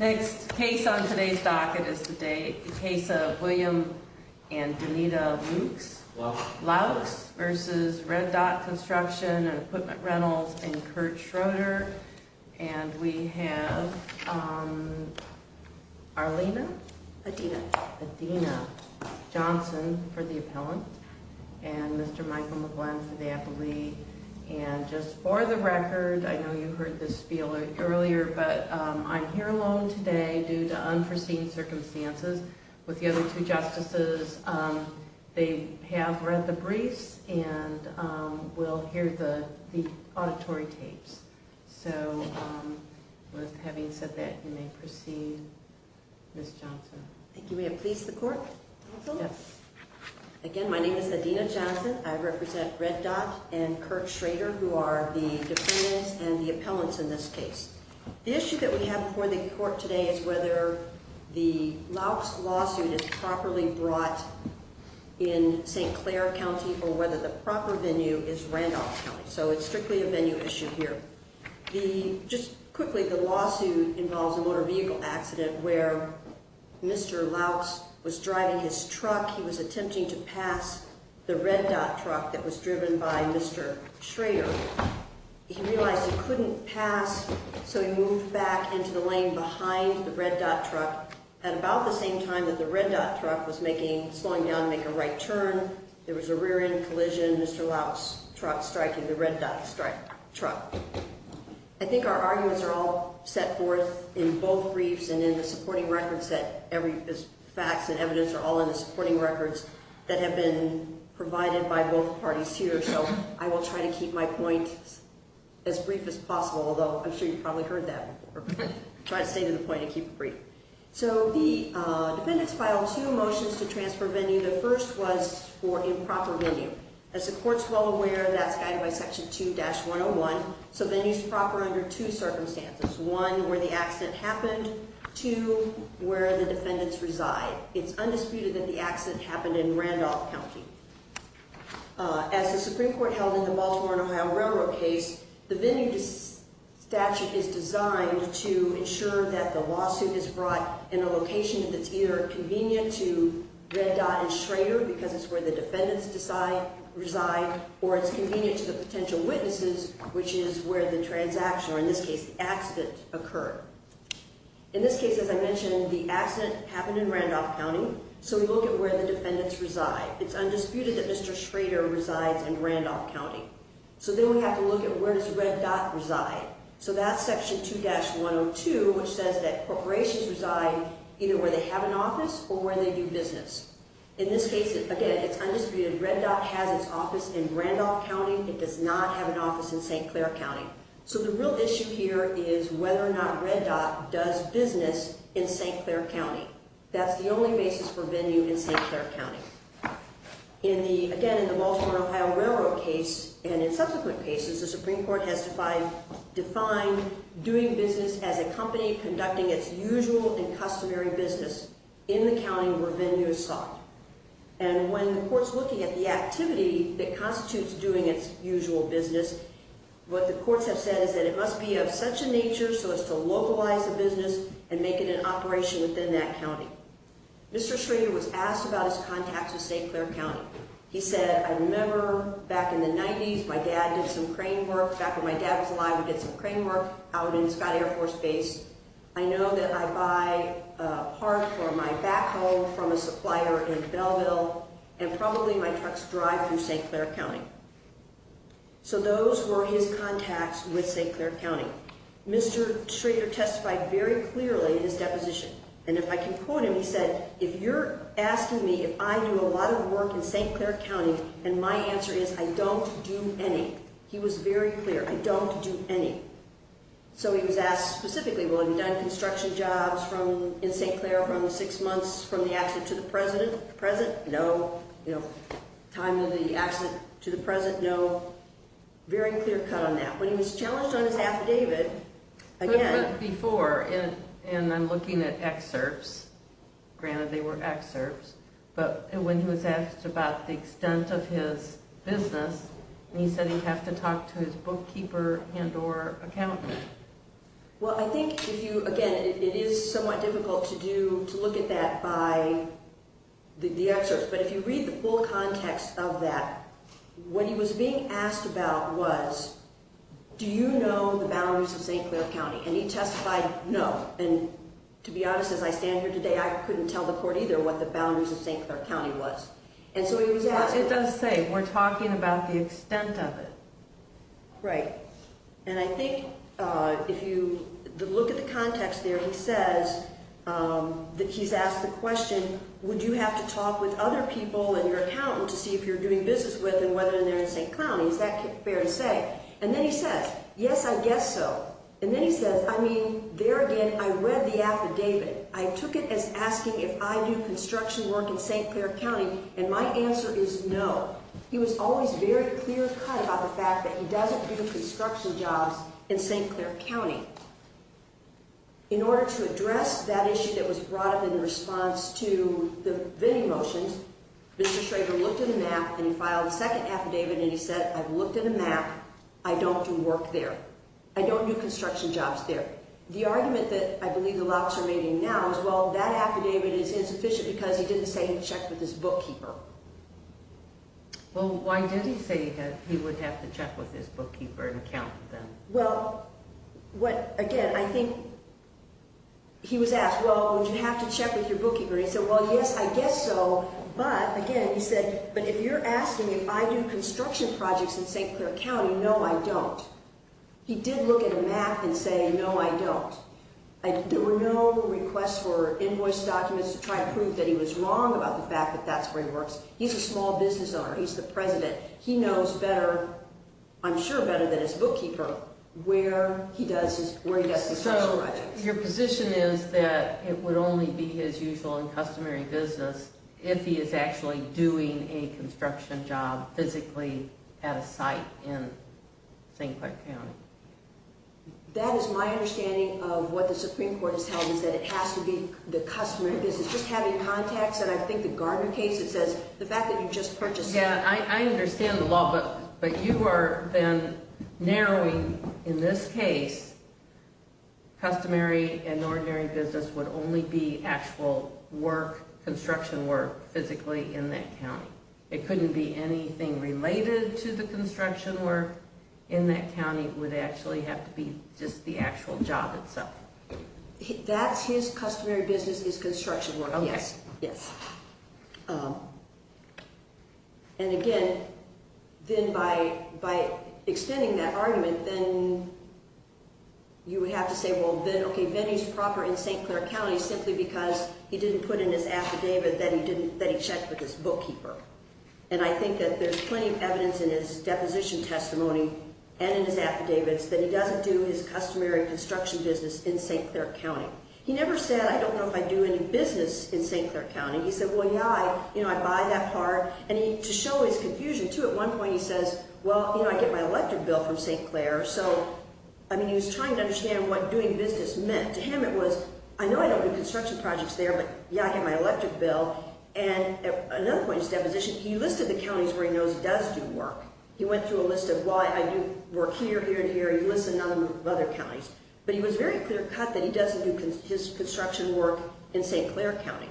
Next case on today's docket is the case of William and Danita Loucks v. Red Dot Construction and Equipment Rentals and Kurt Schroeder and we have Arlena, Athena Johnson for the appellant and Mr. Michael McGlynn for the appellee and just for the record I know you heard this earlier but I'm here alone today due to unforeseen circumstances with the other two justices they have read the briefs and will hear the auditory tapes so with having said that you may proceed Ms. Johnson again my name is Athena Johnson I represent Red Dot and Kurt Schroeder who are the defendants and the appellants in this case the issue that we have before the court today is whether the Loucks lawsuit is properly brought in St. Clair County or whether the proper venue is Randolph County so it's strictly a venue issue here. Just quickly the lawsuit involves a motor vehicle accident where Mr. Loucks was driving his truck he was attempting to pass the Red Dot truck that was driven by Mr. Schroeder he realized he couldn't pass so he moved back into the lane behind the Red Dot truck at about the same time that the Red Dot truck was slowing down to make a right turn there was a rear end collision Mr. Loucks truck striking the Red Dot truck I think our arguments are all set forth in both briefs and in the supporting records that facts and evidence are all in the supporting records that have been provided by both parties here so I will try to keep my point as brief as possible although I'm sure you've probably heard that before I'll try to stay to the point and keep it brief so the defendants filed two motions to transfer venue the first was for improper venue as the courts well aware that's guided by section 2-101 so venue is proper under two circumstances one where the accident happened two where the defendants reside it's undisputed that the accident happened in Randolph County as the Supreme Court held in the Baltimore and Ohio Railroad case the venue statute is designed to ensure that the lawsuit is brought in a location that's either convenient to Red Dot and Schroeder because it's where the defendants reside or it's convenient to the potential witnesses which is where the transaction or in this case the accident occurred in this case as I mentioned the accident happened in Randolph County so we look at where the defendants reside it's undisputed that Mr. Schroeder resides in Randolph County so then we have to look at where does Red Dot reside so that's section 2-102 which says that corporations reside either where they have an office or where they do business in this case again it's undisputed Red Dot has its office in Randolph County it does not have an office in St. Clair County so the real issue here is whether or not Red Dot does business in St. Clair County that's the only basis for venue in St. Clair County again in the Baltimore and Ohio Railroad case and in subsequent cases the Supreme Court has defined doing business as a company conducting its usual and customary business in the county where venue is sought and when the court's looking at the activity that constitutes doing its usual business what the courts have said is that it must be of such a nature so as to localize the business and make it an operation within that county Mr. Schroeder was asked about his contacts in St. Clair County he said I remember back in the 90s my dad did some crane work back when my dad was alive we did some crane work out in Scott Air Force Base I know that I buy a part for my back home from a supplier in Belleville and probably my truck's drive through St. Clair County so those were his contacts with St. Clair County Mr. Schroeder testified very clearly in his deposition and if I can quote him he said if you're asking me if I do a lot of work in St. Clair County and my answer is I don't do any he was very clear I don't do any so he was asked specifically well have you done construction jobs in St. Clair from the six months from the accident to the present no time of the accident to the present no very clear cut on that when he was challenged on his affidavit before and I'm looking at excerpts granted they were excerpts but when he was asked about the extent of his business he said he'd have to talk to his bookkeeper and or accountant well I think if you again it is somewhat difficult to do to look at that by the excerpts but if you read the full context of that when he was being asked about was do you know the boundaries of St. Clair County and he testified no and to be honest as I stand here today I couldn't tell the court either what the boundaries of St. Clair County was it does say we're talking about the extent of it and my answer is no he was always very clear cut about the fact that he doesn't do construction jobs in St. Clair County in order to address that issue that was brought up in response to the bidding motions Mr. Schrager looked at a map and he filed a second affidavit and he said I've looked at a map I don't do work there I don't do construction jobs there the argument that I believe the locks are making now is well that affidavit is insufficient because he didn't say he checked with his bookkeeper well why did he say he would have to check with his bookkeeper and accountant then well again I think he was asked well would you have to check with your bookkeeper he said well yes I guess so but again he said but if you're asking me if I do construction projects in St. Clair County no I don't he did look at a map and say no I don't there were no requests for invoice documents to try and prove that he was wrong about the fact that that's where he works he's a small business owner he's the president he knows better I'm sure better than his bookkeeper where he does his construction projects your position is that it would only be his usual and customary business if he is actually doing a construction job physically at a site in St. Clair County that is my understanding of what the Supreme Court is telling us that it has to be the customary business just having contacts and I think the Gardner case it says the fact that you just purchased yeah I understand the law but you are then narrowing in this case customary and ordinary business would only be actual work construction work physically in that county it couldn't be anything related to the construction work in that county it would actually have to be just the actual job itself that's his customary business is construction work yes yes and again then by by extending that argument then you would have to say well then okay then he's proper in St. Clair County simply because he didn't put in his affidavit that he didn't that he checked with his bookkeeper and I think that there's plenty of evidence in his deposition testimony and in his affidavits that he doesn't do his customary construction business in St. Clair County he never said I don't know if I do any business in St. Clair County he said well yeah I you know I buy that part and to show his confusion too at one point he says well you know I get my electric bill from St. Clair so I mean he was trying to understand what doing business meant to him it was I know I don't do construction projects there but yeah I get my electric bill and at another point in his deposition he listed the counties where he knows does do work he went through a list of why I do work here here and here he listed a number of other counties but he was very clear cut that he doesn't do his construction work in St. Clair County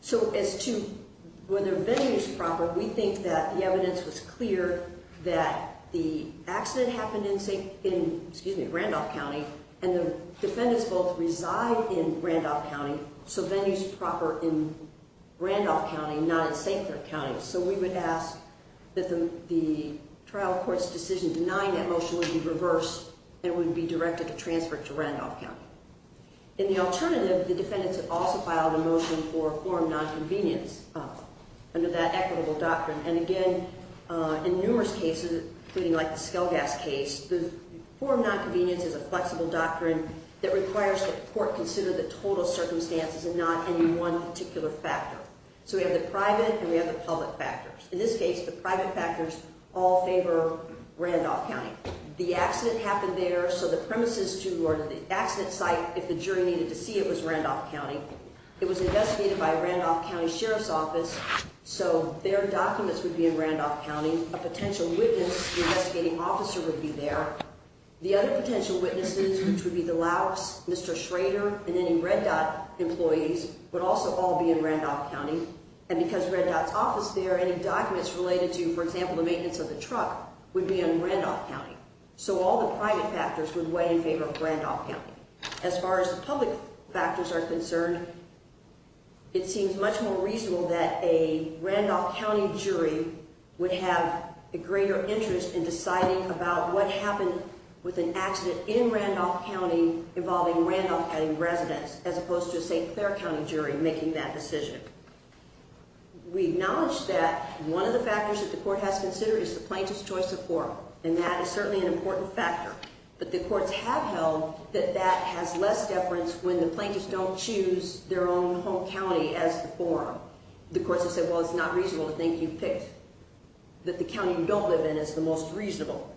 so as to whether venue is proper we think that the evidence was clear that the accident happened in St. in excuse me Randolph County and the defendants both reside in Randolph County so venue is proper in Randolph County not in St. Clair County so we would ask that the trial court's decision denying that motion would be reversed and would be directed to transfer to Randolph County in the alternative the defendants have also filed a motion for forum non-convenience under that equitable doctrine and again in numerous cases including like the Skelgas case the forum non-convenience is a flexible doctrine that requires the court consider the total circumstances and not any one particular factor so we have the private and we have the public factors in this case the private factors all favor Randolph County the accident happened there so the premises to or the accident site if the jury needed to see it was Randolph County it was investigated by Randolph County Sheriff's Office so their documents would be in Randolph County a potential witness investigating officer would be there the other potential witnesses which would be the Laos Mr. Schrader and any Red Dot employees would also all be in Randolph County and because Red Dot's office there any documents related to for example the maintenance of the truck would be in Randolph County so all the private factors would weigh in favor of Randolph County as far as the public factors are concerned it seems much more reasonable that a Randolph County jury would have a greater interest in deciding about what happened with an accident in Randolph County involving Randolph County residents as opposed to a St. Clair County jury making that decision we acknowledge that one of the factors that the court has considered is the plaintiff's choice of forum and that is certainly an important factor but the courts have held that that has less deference when the plaintiffs don't choose their own home county as the forum the courts have said well it's not reasonable to think you've picked that the county you don't live in is the most reasonable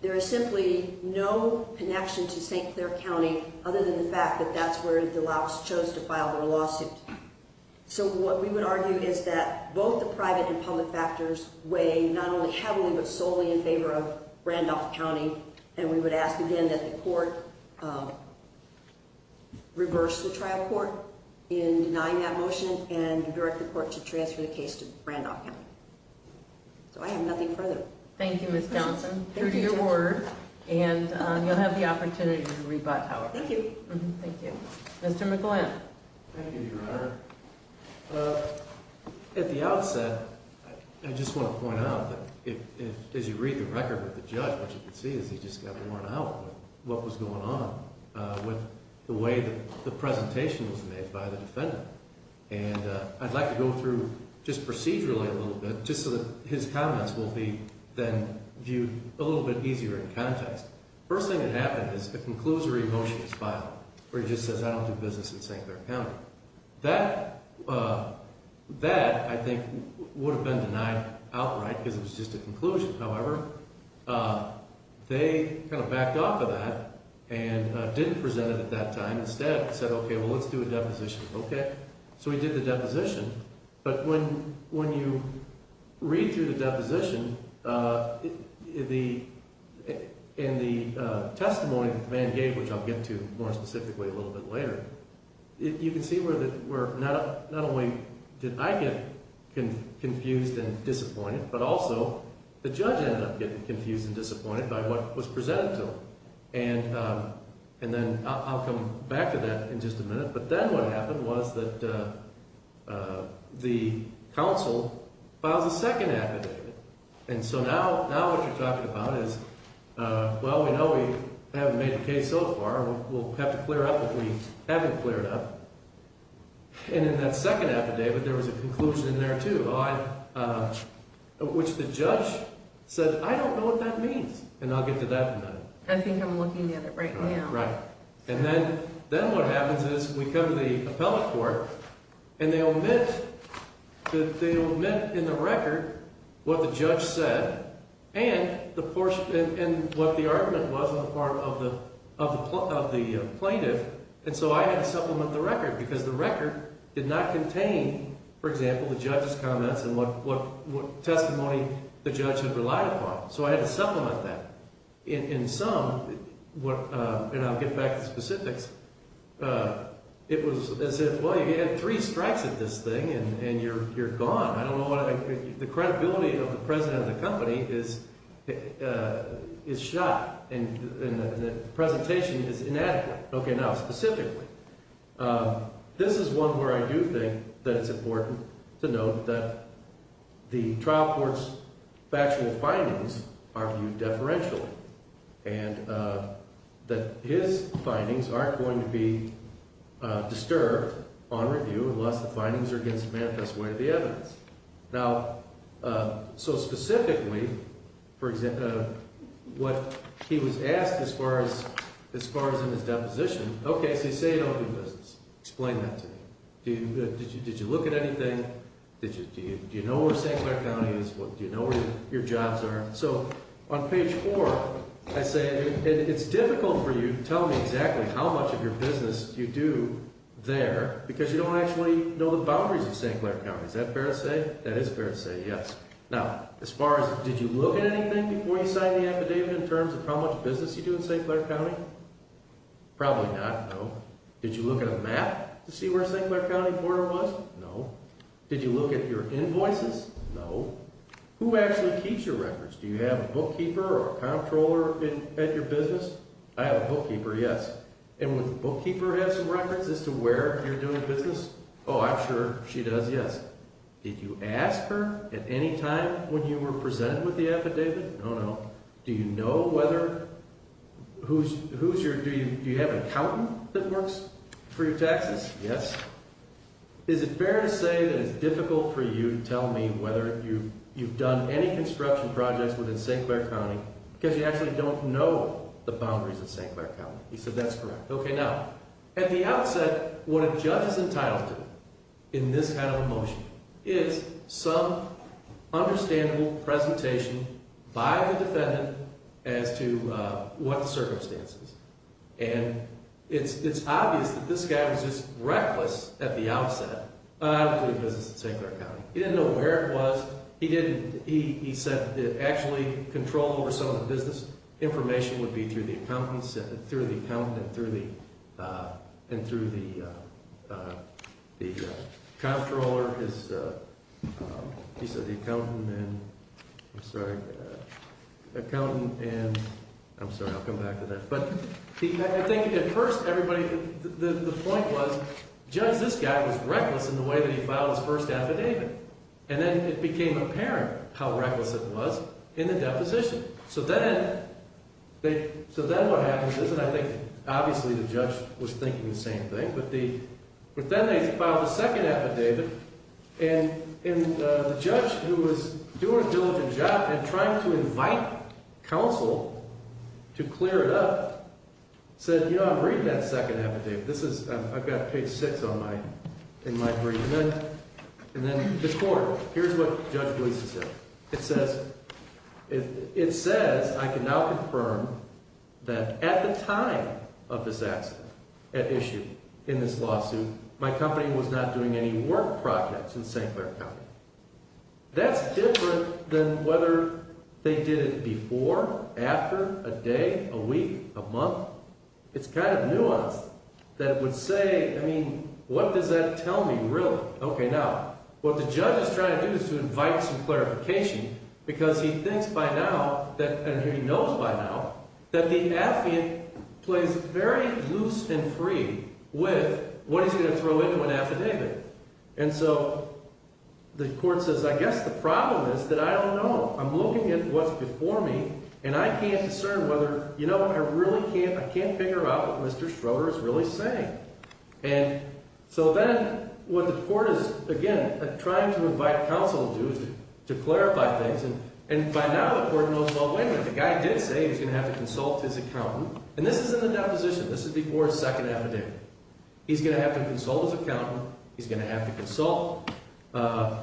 there is simply no connection to St. Clair County other than the fact that that's where the Laos chose to file their lawsuit so what we would argue is that both the private and public factors weigh not only heavily but solely in favor of Randolph County and we would ask again that the court reverse the trial court in denying that motion and direct the court to transfer the case to Randolph County so I have nothing further thank you Ms. Johnson and you'll have the opportunity to rebut however thank you Mr. McGlynn thank you your honor at the outset I just want to point out that as you read the record with the judge what you can see is he just got worn out with what was going on with the way that the presentation was made by the defendant and I'd like to go through just procedurally a little bit just so that his comments will be then viewed a little bit easier in context first thing that happened is a conclusory motion is filed where he just says I don't do business in St. Clair County that I think would have been denied outright because it was just a conclusion however they kind of backed off of that and didn't present it at that time instead said okay well let's do a deposition so we did the deposition but when you read through the deposition in the testimony that the man gave which I'll get to more specifically a little bit later you can see where not only did I get confused and disappointed but also the judge ended up getting confused and disappointed by what was presented to him and then I'll come back to that in just a minute but then what happened was that the council filed a second affidavit and so now what you're talking about is well we know we haven't made the case so far we'll have to clear up what we haven't cleared up and in that second affidavit there was a conclusion in there too which the judge said I don't know what that means and I'll get to that in a minute and then what happens is we come to the appellate court and they omit in the record what the judge said and what the argument was on the part of the plaintiff and so I had to supplement the record because the record did not contain for example the judge's comments and what testimony the judge had relied upon so I had to supplement that in sum and I'll get back to specifics it was as if well you had three strikes at this thing and you're gone I don't know what the credibility of the president of the company is shot and the presentation is inadequate okay now specifically this is one where I do think that it's important to note that the trial court's factual findings are viewed deferentially and that his findings aren't going to be disturbed on review unless the findings are against the manifest way of the evidence now so specifically what he was asked as far as in his deposition okay so you say you don't do business explain that to me did you look at anything do you know where St. Clair County is do you know where your jobs are so on page four I say it's difficult for you to tell me exactly how much of your business you do there because you don't actually know the boundaries of St. Clair County is that fair to say that is fair to say yes now as far as did you look at anything before you signed the affidavit in terms of how much business you do in St. Clair County probably not no did you look at a map to see where St. Clair County border was no did you look at your invoices no who actually keeps your records do you have a bookkeeper or a comptroller at your business I have a bookkeeper yes and would the bookkeeper have some records as to where you're doing business oh I'm sure she does yes did you ask her at any time when you were presented with the affidavit no no do you know whether who's who's your do you have an accountant that works for your taxes yes is it fair to say that it's difficult for you to tell me whether you you've done any construction projects within St. Clair County because you actually don't know the boundaries of St. Clair County he said that's correct okay now at the outset what a judge is entitled to in this kind of a motion is some understandable presentation by the defendant as to what the circumstances and it's obvious that this guy was just reckless at the outset of doing business in St. Clair County he didn't know where it was he didn't he said actually control over some of the business information would be through the accountants through the accountant through the and through the the comptroller he said the accountant and I'm sorry accountant and I'm sorry I'll come back to that but I think at first everybody the point was judge this guy was reckless in the way that he filed his first affidavit and then it became apparent how reckless it was in the deposition so then they so then what happens is and I think obviously the judge was thinking the same thing but then they filed the second affidavit and the judge who was doing a diligent job and trying to invite counsel to clear it up said you know I'm reading that second affidavit this is I've got page six on my in my brief and then and then the court here's what judge releases it it says it says I can now confirm that at the time of this accident at issue in this lawsuit my company was not doing any work projects in St. Clair County that's different than whether they did it before after a day a week a month it's kind of nuanced that it would say I mean what does that tell me really okay now what the judge is trying to do is to invite some clarification because he thinks by now that and he knows by now that the affid plays very loose and free with what he's going to throw into an affidavit and so the court says I guess the problem is that I don't know I'm looking at what's before me and I can't discern whether you know I really can't I can't figure out what Mr. Schroeder is really saying and so then what the court is again trying to invite counsel to do is to clarify things and by now the court knows well wait a minute the guy did say he was going to have to consult his accountant and this is in the deposition this is before his second affidavit he's going to have to consult his accountant he's going to have to consult the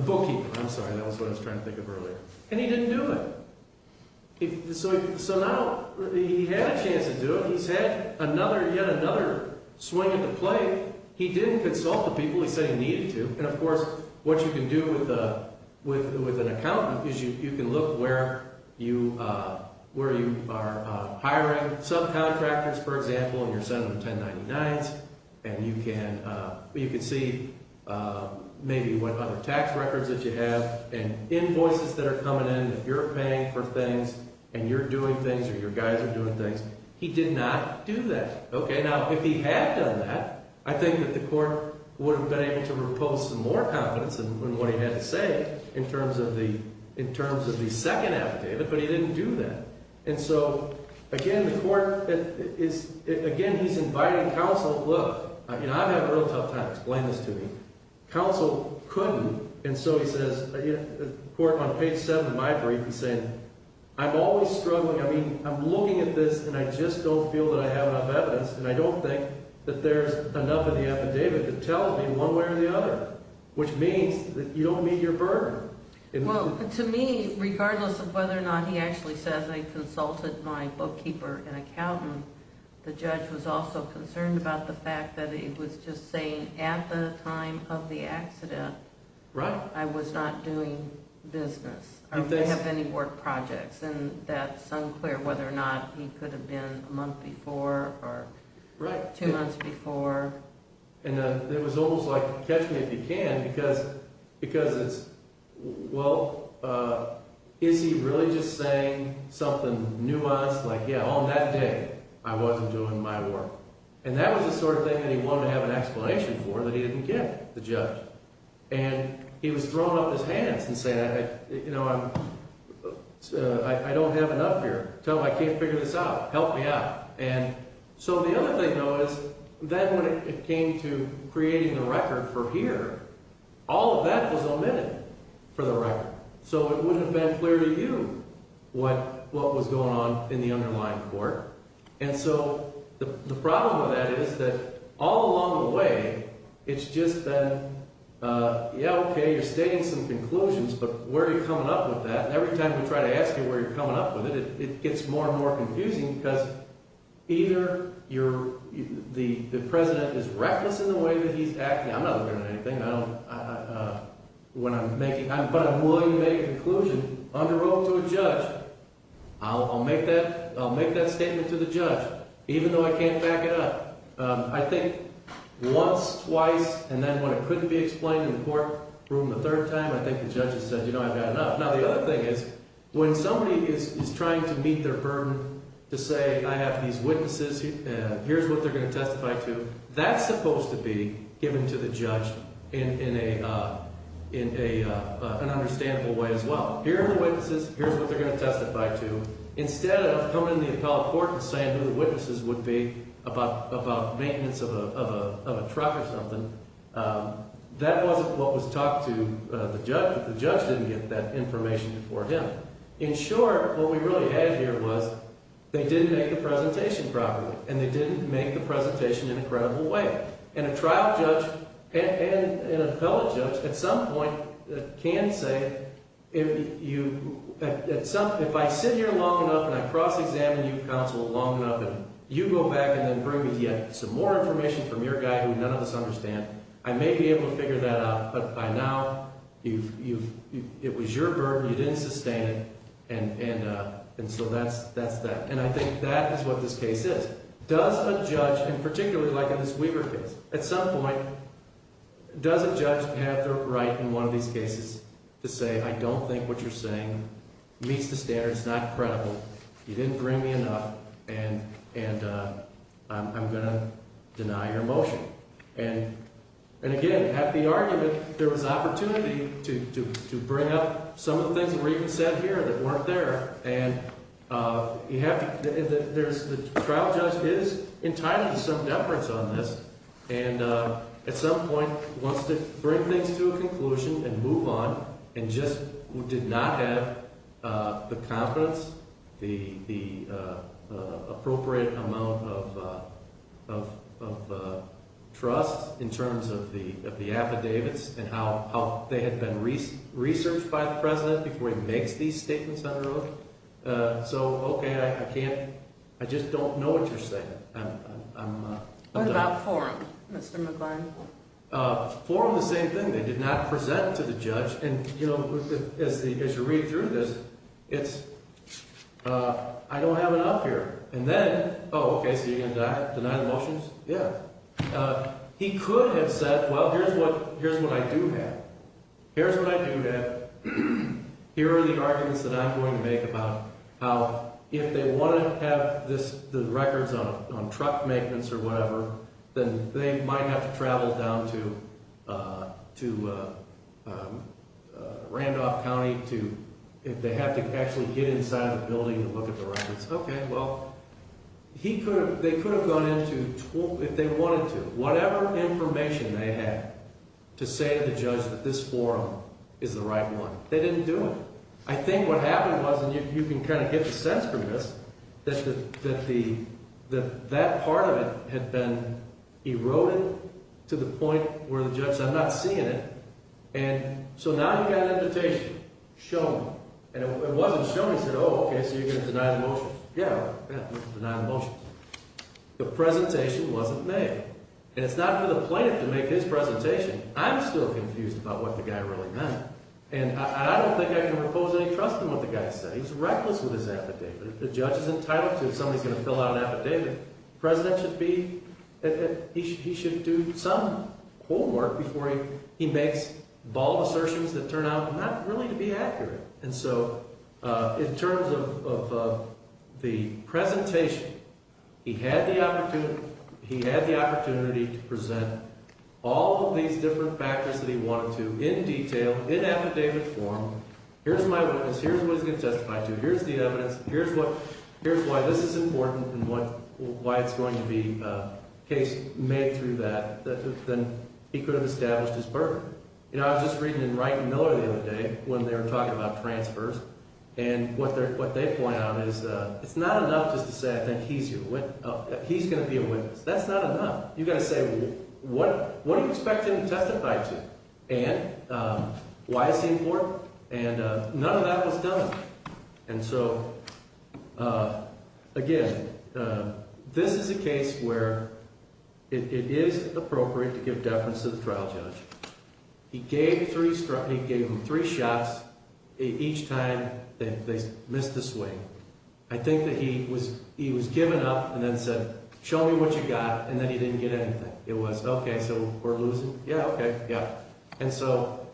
bookkeeper I'm sorry that was what I was trying to think of earlier and he didn't do it so now he had a chance to do it he's had another yet another swing at the play he didn't consult the people he said he needed to and of course what you can do with a with an accountant is you can look where you where you are hiring subcontractors for example in your Senate of 1099s and you can you can see maybe what other tax records that you have and invoices that are coming in if you're paying for things and you're doing things or your guys are doing things he did not do that okay now if he had done that I think that the court would have been able to repose some more confidence in what he had to say in terms of the in terms of the second affidavit but he didn't do that and so again the court is again he's inviting counsel look I mean I've had a real tough time explaining this to me counsel couldn't and so he says the court on page 7 of my brief he's saying I'm always struggling I mean I'm looking at this and I just don't feel that I have enough evidence and I don't think that there's enough in the affidavit to tell me one way or the other which means that you don't meet your burden well to me regardless of whether or not he actually says I consulted my bookkeeper and accountant the judge was also concerned about the fact that he was just saying at the time of the accident right I was not doing business or have any work projects and that's unclear whether or not he could have been a month before or two months before and it was almost like catch me if you can because it's well is he really just saying something nuanced like yeah on that day I wasn't doing my work and that was the sort of thing that he wanted to have an explanation for that he didn't get the judge and he was throwing up his hands and saying I you know I'm I don't have enough here tell him I can't figure this out help me out and so the other thing though is then when it came to creating a record for here all of that was omitted for the record so it wouldn't have been clear to you what what was going on in the underlying court and so the problem with that is that all along the way it's just been yeah okay you're stating some conclusions but where are you coming up with that and every time we try to ask you where you're coming up with it it gets more and more confusing because either you're the the president is reckless in the way that he's acting I'm not doing anything I don't when I'm making I'm but I'm willing to make a conclusion under oath to a judge I'll make that I'll make that statement to the judge even though I can't back it up I think once twice and then when it couldn't be explained in the court room the third time I think the judge has said you know I've had enough now the other thing is when somebody is trying to meet their burden to say I have these witnesses and here's what they're going to testify to that's supposed to be given to the judge in in a in a an understandable way as well here are the witnesses here's what they're going to testify to instead of coming in the appellate court and saying who the witnesses would be about about maintenance of a of a truck or something that wasn't what was talked to the judge the judge didn't get that information before him in short what we really had here was they didn't make the presentation properly and they didn't make the presentation in a credible way and a trial judge and an appellate judge at some point can say if you at some if I sit here long enough and I cross-examine you counsel long enough and you go back and then bring me yet some more information for a mere guy who none of us understand I may be able to figure that out but by now you've you've it was your burden you didn't sustain it and and and so that's that's that and I think that is what this case is does a judge in particularly like in this Weaver case at some point does a judge have the right in one of these cases to say I don't think what you're saying meets the standards not credible you didn't bring me enough and and I'm going to deny your motion. And and again at the argument there was opportunity to to to bring up some of the things that were even said here that weren't there and you have to there's the trial judge is entitled to some deference on this and at some point wants to bring things to a conclusion and move on and just who did not have the confidence the the appropriate amount of. Of of of trust in terms of the of the affidavits and how how they had been researched by the president before he makes these statements under oath. So OK I can't I just don't know what you're saying. What about forum Mr. McGuire? Uh forum the same thing they did not present to the judge and you know as the as you read through this it's uh I don't have it up here and then oh OK so you're gonna deny the motions yeah. Uh he could have said well here's what here's what I do have. Here's what I do have. Here are the arguments that I'm going to make about how if they want to have this the records on on truck maintenance or whatever then they might have to travel down to uh to uh Randolph County to if they have to actually get inside a building and look at the records. OK well he could they could have gone into 12 if they wanted to whatever information they had to say to the judge that this forum is the right one. They didn't do it. I think what happened was and you can kind of get the sense from this that the that the that part of it had been eroded to the point where the judge said I'm not seeing it. And so now you got an invitation show me and it wasn't shown he said oh OK so you're gonna deny the motions. Yeah I'm gonna deny the motions. The presentation wasn't made and it's not for the plaintiff to make his presentation. I'm still confused about what the guy really meant and I don't think I can propose any trust in what the guy said. He's reckless with his affidavit. The judge is entitled to if somebody's gonna fill out an affidavit. President should be he should do some homework before he makes bald assertions that turn out not really to be accurate. And so in terms of the presentation he had the opportunity he had the opportunity to present all of these different factors that he wanted to in detail in affidavit form. Here's my witness. Here's what he's gonna testify to. Here's the evidence. Here's what here's why this is important and what why it's going to be a case made through that then he could have established his burden. You know I was just reading in Wright and Miller the other day when they were talking about transfers and what they're what they point out is it's not enough just to say I think he's your witness. He's gonna be a witness. That's not enough. You've got to say what what do you expect him to testify to and why is he important. And none of that was done. And so again this is a case where it is appropriate to give deference to the trial judge. He gave three struck he gave him three shots each time they missed the swing. I think that he was he was given up and then said show me what you got. And then he didn't get anything. It was OK so we're losing. Yeah. OK. Yeah. And so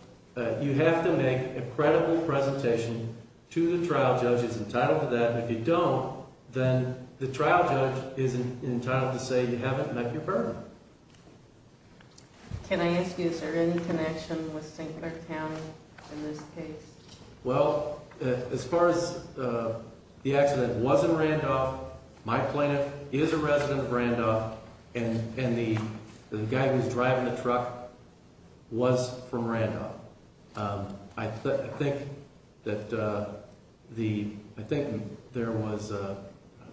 you have to make a credible presentation to the trial judge is entitled to that. If you don't then the trial judge is entitled to say you haven't met your burden. Can I ask you is there any connection with Sinclair County in this case. Well as far as the accident wasn't Randolph. My plaintiff is a resident of Randolph and the guy who's driving the truck was from Randolph. I think that the I think there was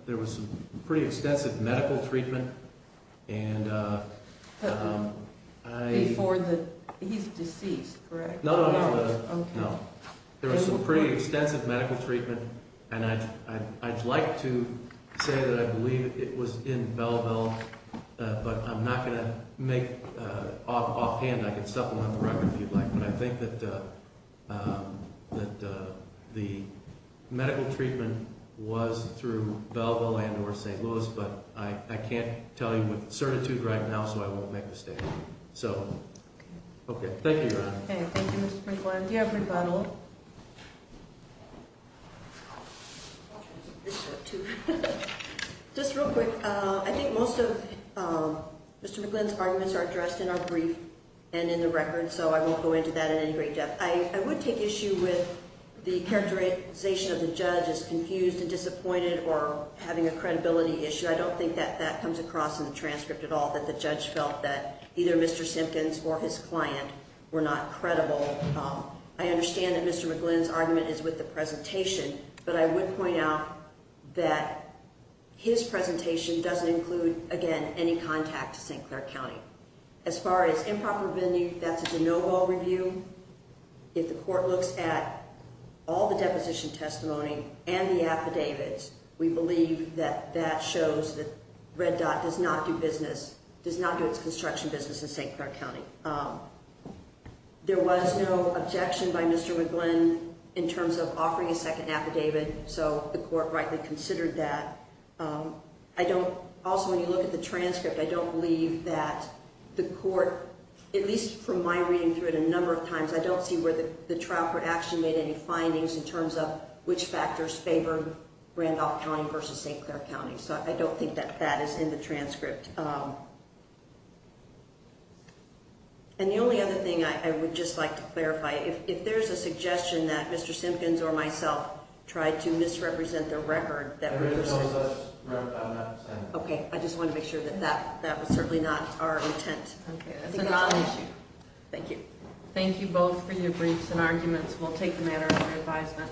there was some pretty extensive medical treatment. And I for the he's deceased. Right. No. No. There was some pretty extensive medical treatment. And I'd like to say that I believe it was in Belleville. But I'm not going to make offhand I can supplement the record if you'd like. But I think that the medical treatment was through Belleville and or St. Louis. But I can't tell you with certitude right now. So I won't make a statement. So. OK. Thank you. OK. Thank you Mr. McGlynn. Do you have rebuttal. Just real quick. I think most of Mr. McGlynn's arguments are addressed in our brief and in the record. So I won't go into that in any great depth. I would take issue with the characterization of the judge as confused and disappointed or having a credibility issue. I don't think that that comes across in the transcript at all that the judge felt that either Mr. Simpkins or his client were not credible. I understand that Mr. McGlynn's argument is with the presentation. But I would point out that his presentation doesn't include, again, any contact to St. Clair County. As far as improper venue, that's a de novo review. If the court looks at all the deposition testimony and the affidavits, we believe that that shows that Red Dot does not do business, does not do its construction business in St. Clair County. There was no objection by Mr. McGlynn in terms of offering a second affidavit. So the court rightly considered that. Also, when you look at the transcript, I don't believe that the court, at least from my reading through it a number of times, I don't see where the trial for action made any findings in terms of which factors favor Randolph County versus St. Clair County. So I don't think that that is in the transcript. And the only other thing I would just like to clarify, if there's a suggestion that Mr. Simpkins or myself tried to misrepresent the record that we're using. Okay. I just want to make sure that that was certainly not our intent. Thank you. Thank you both for your briefs and arguments. We'll take the matter under advisement.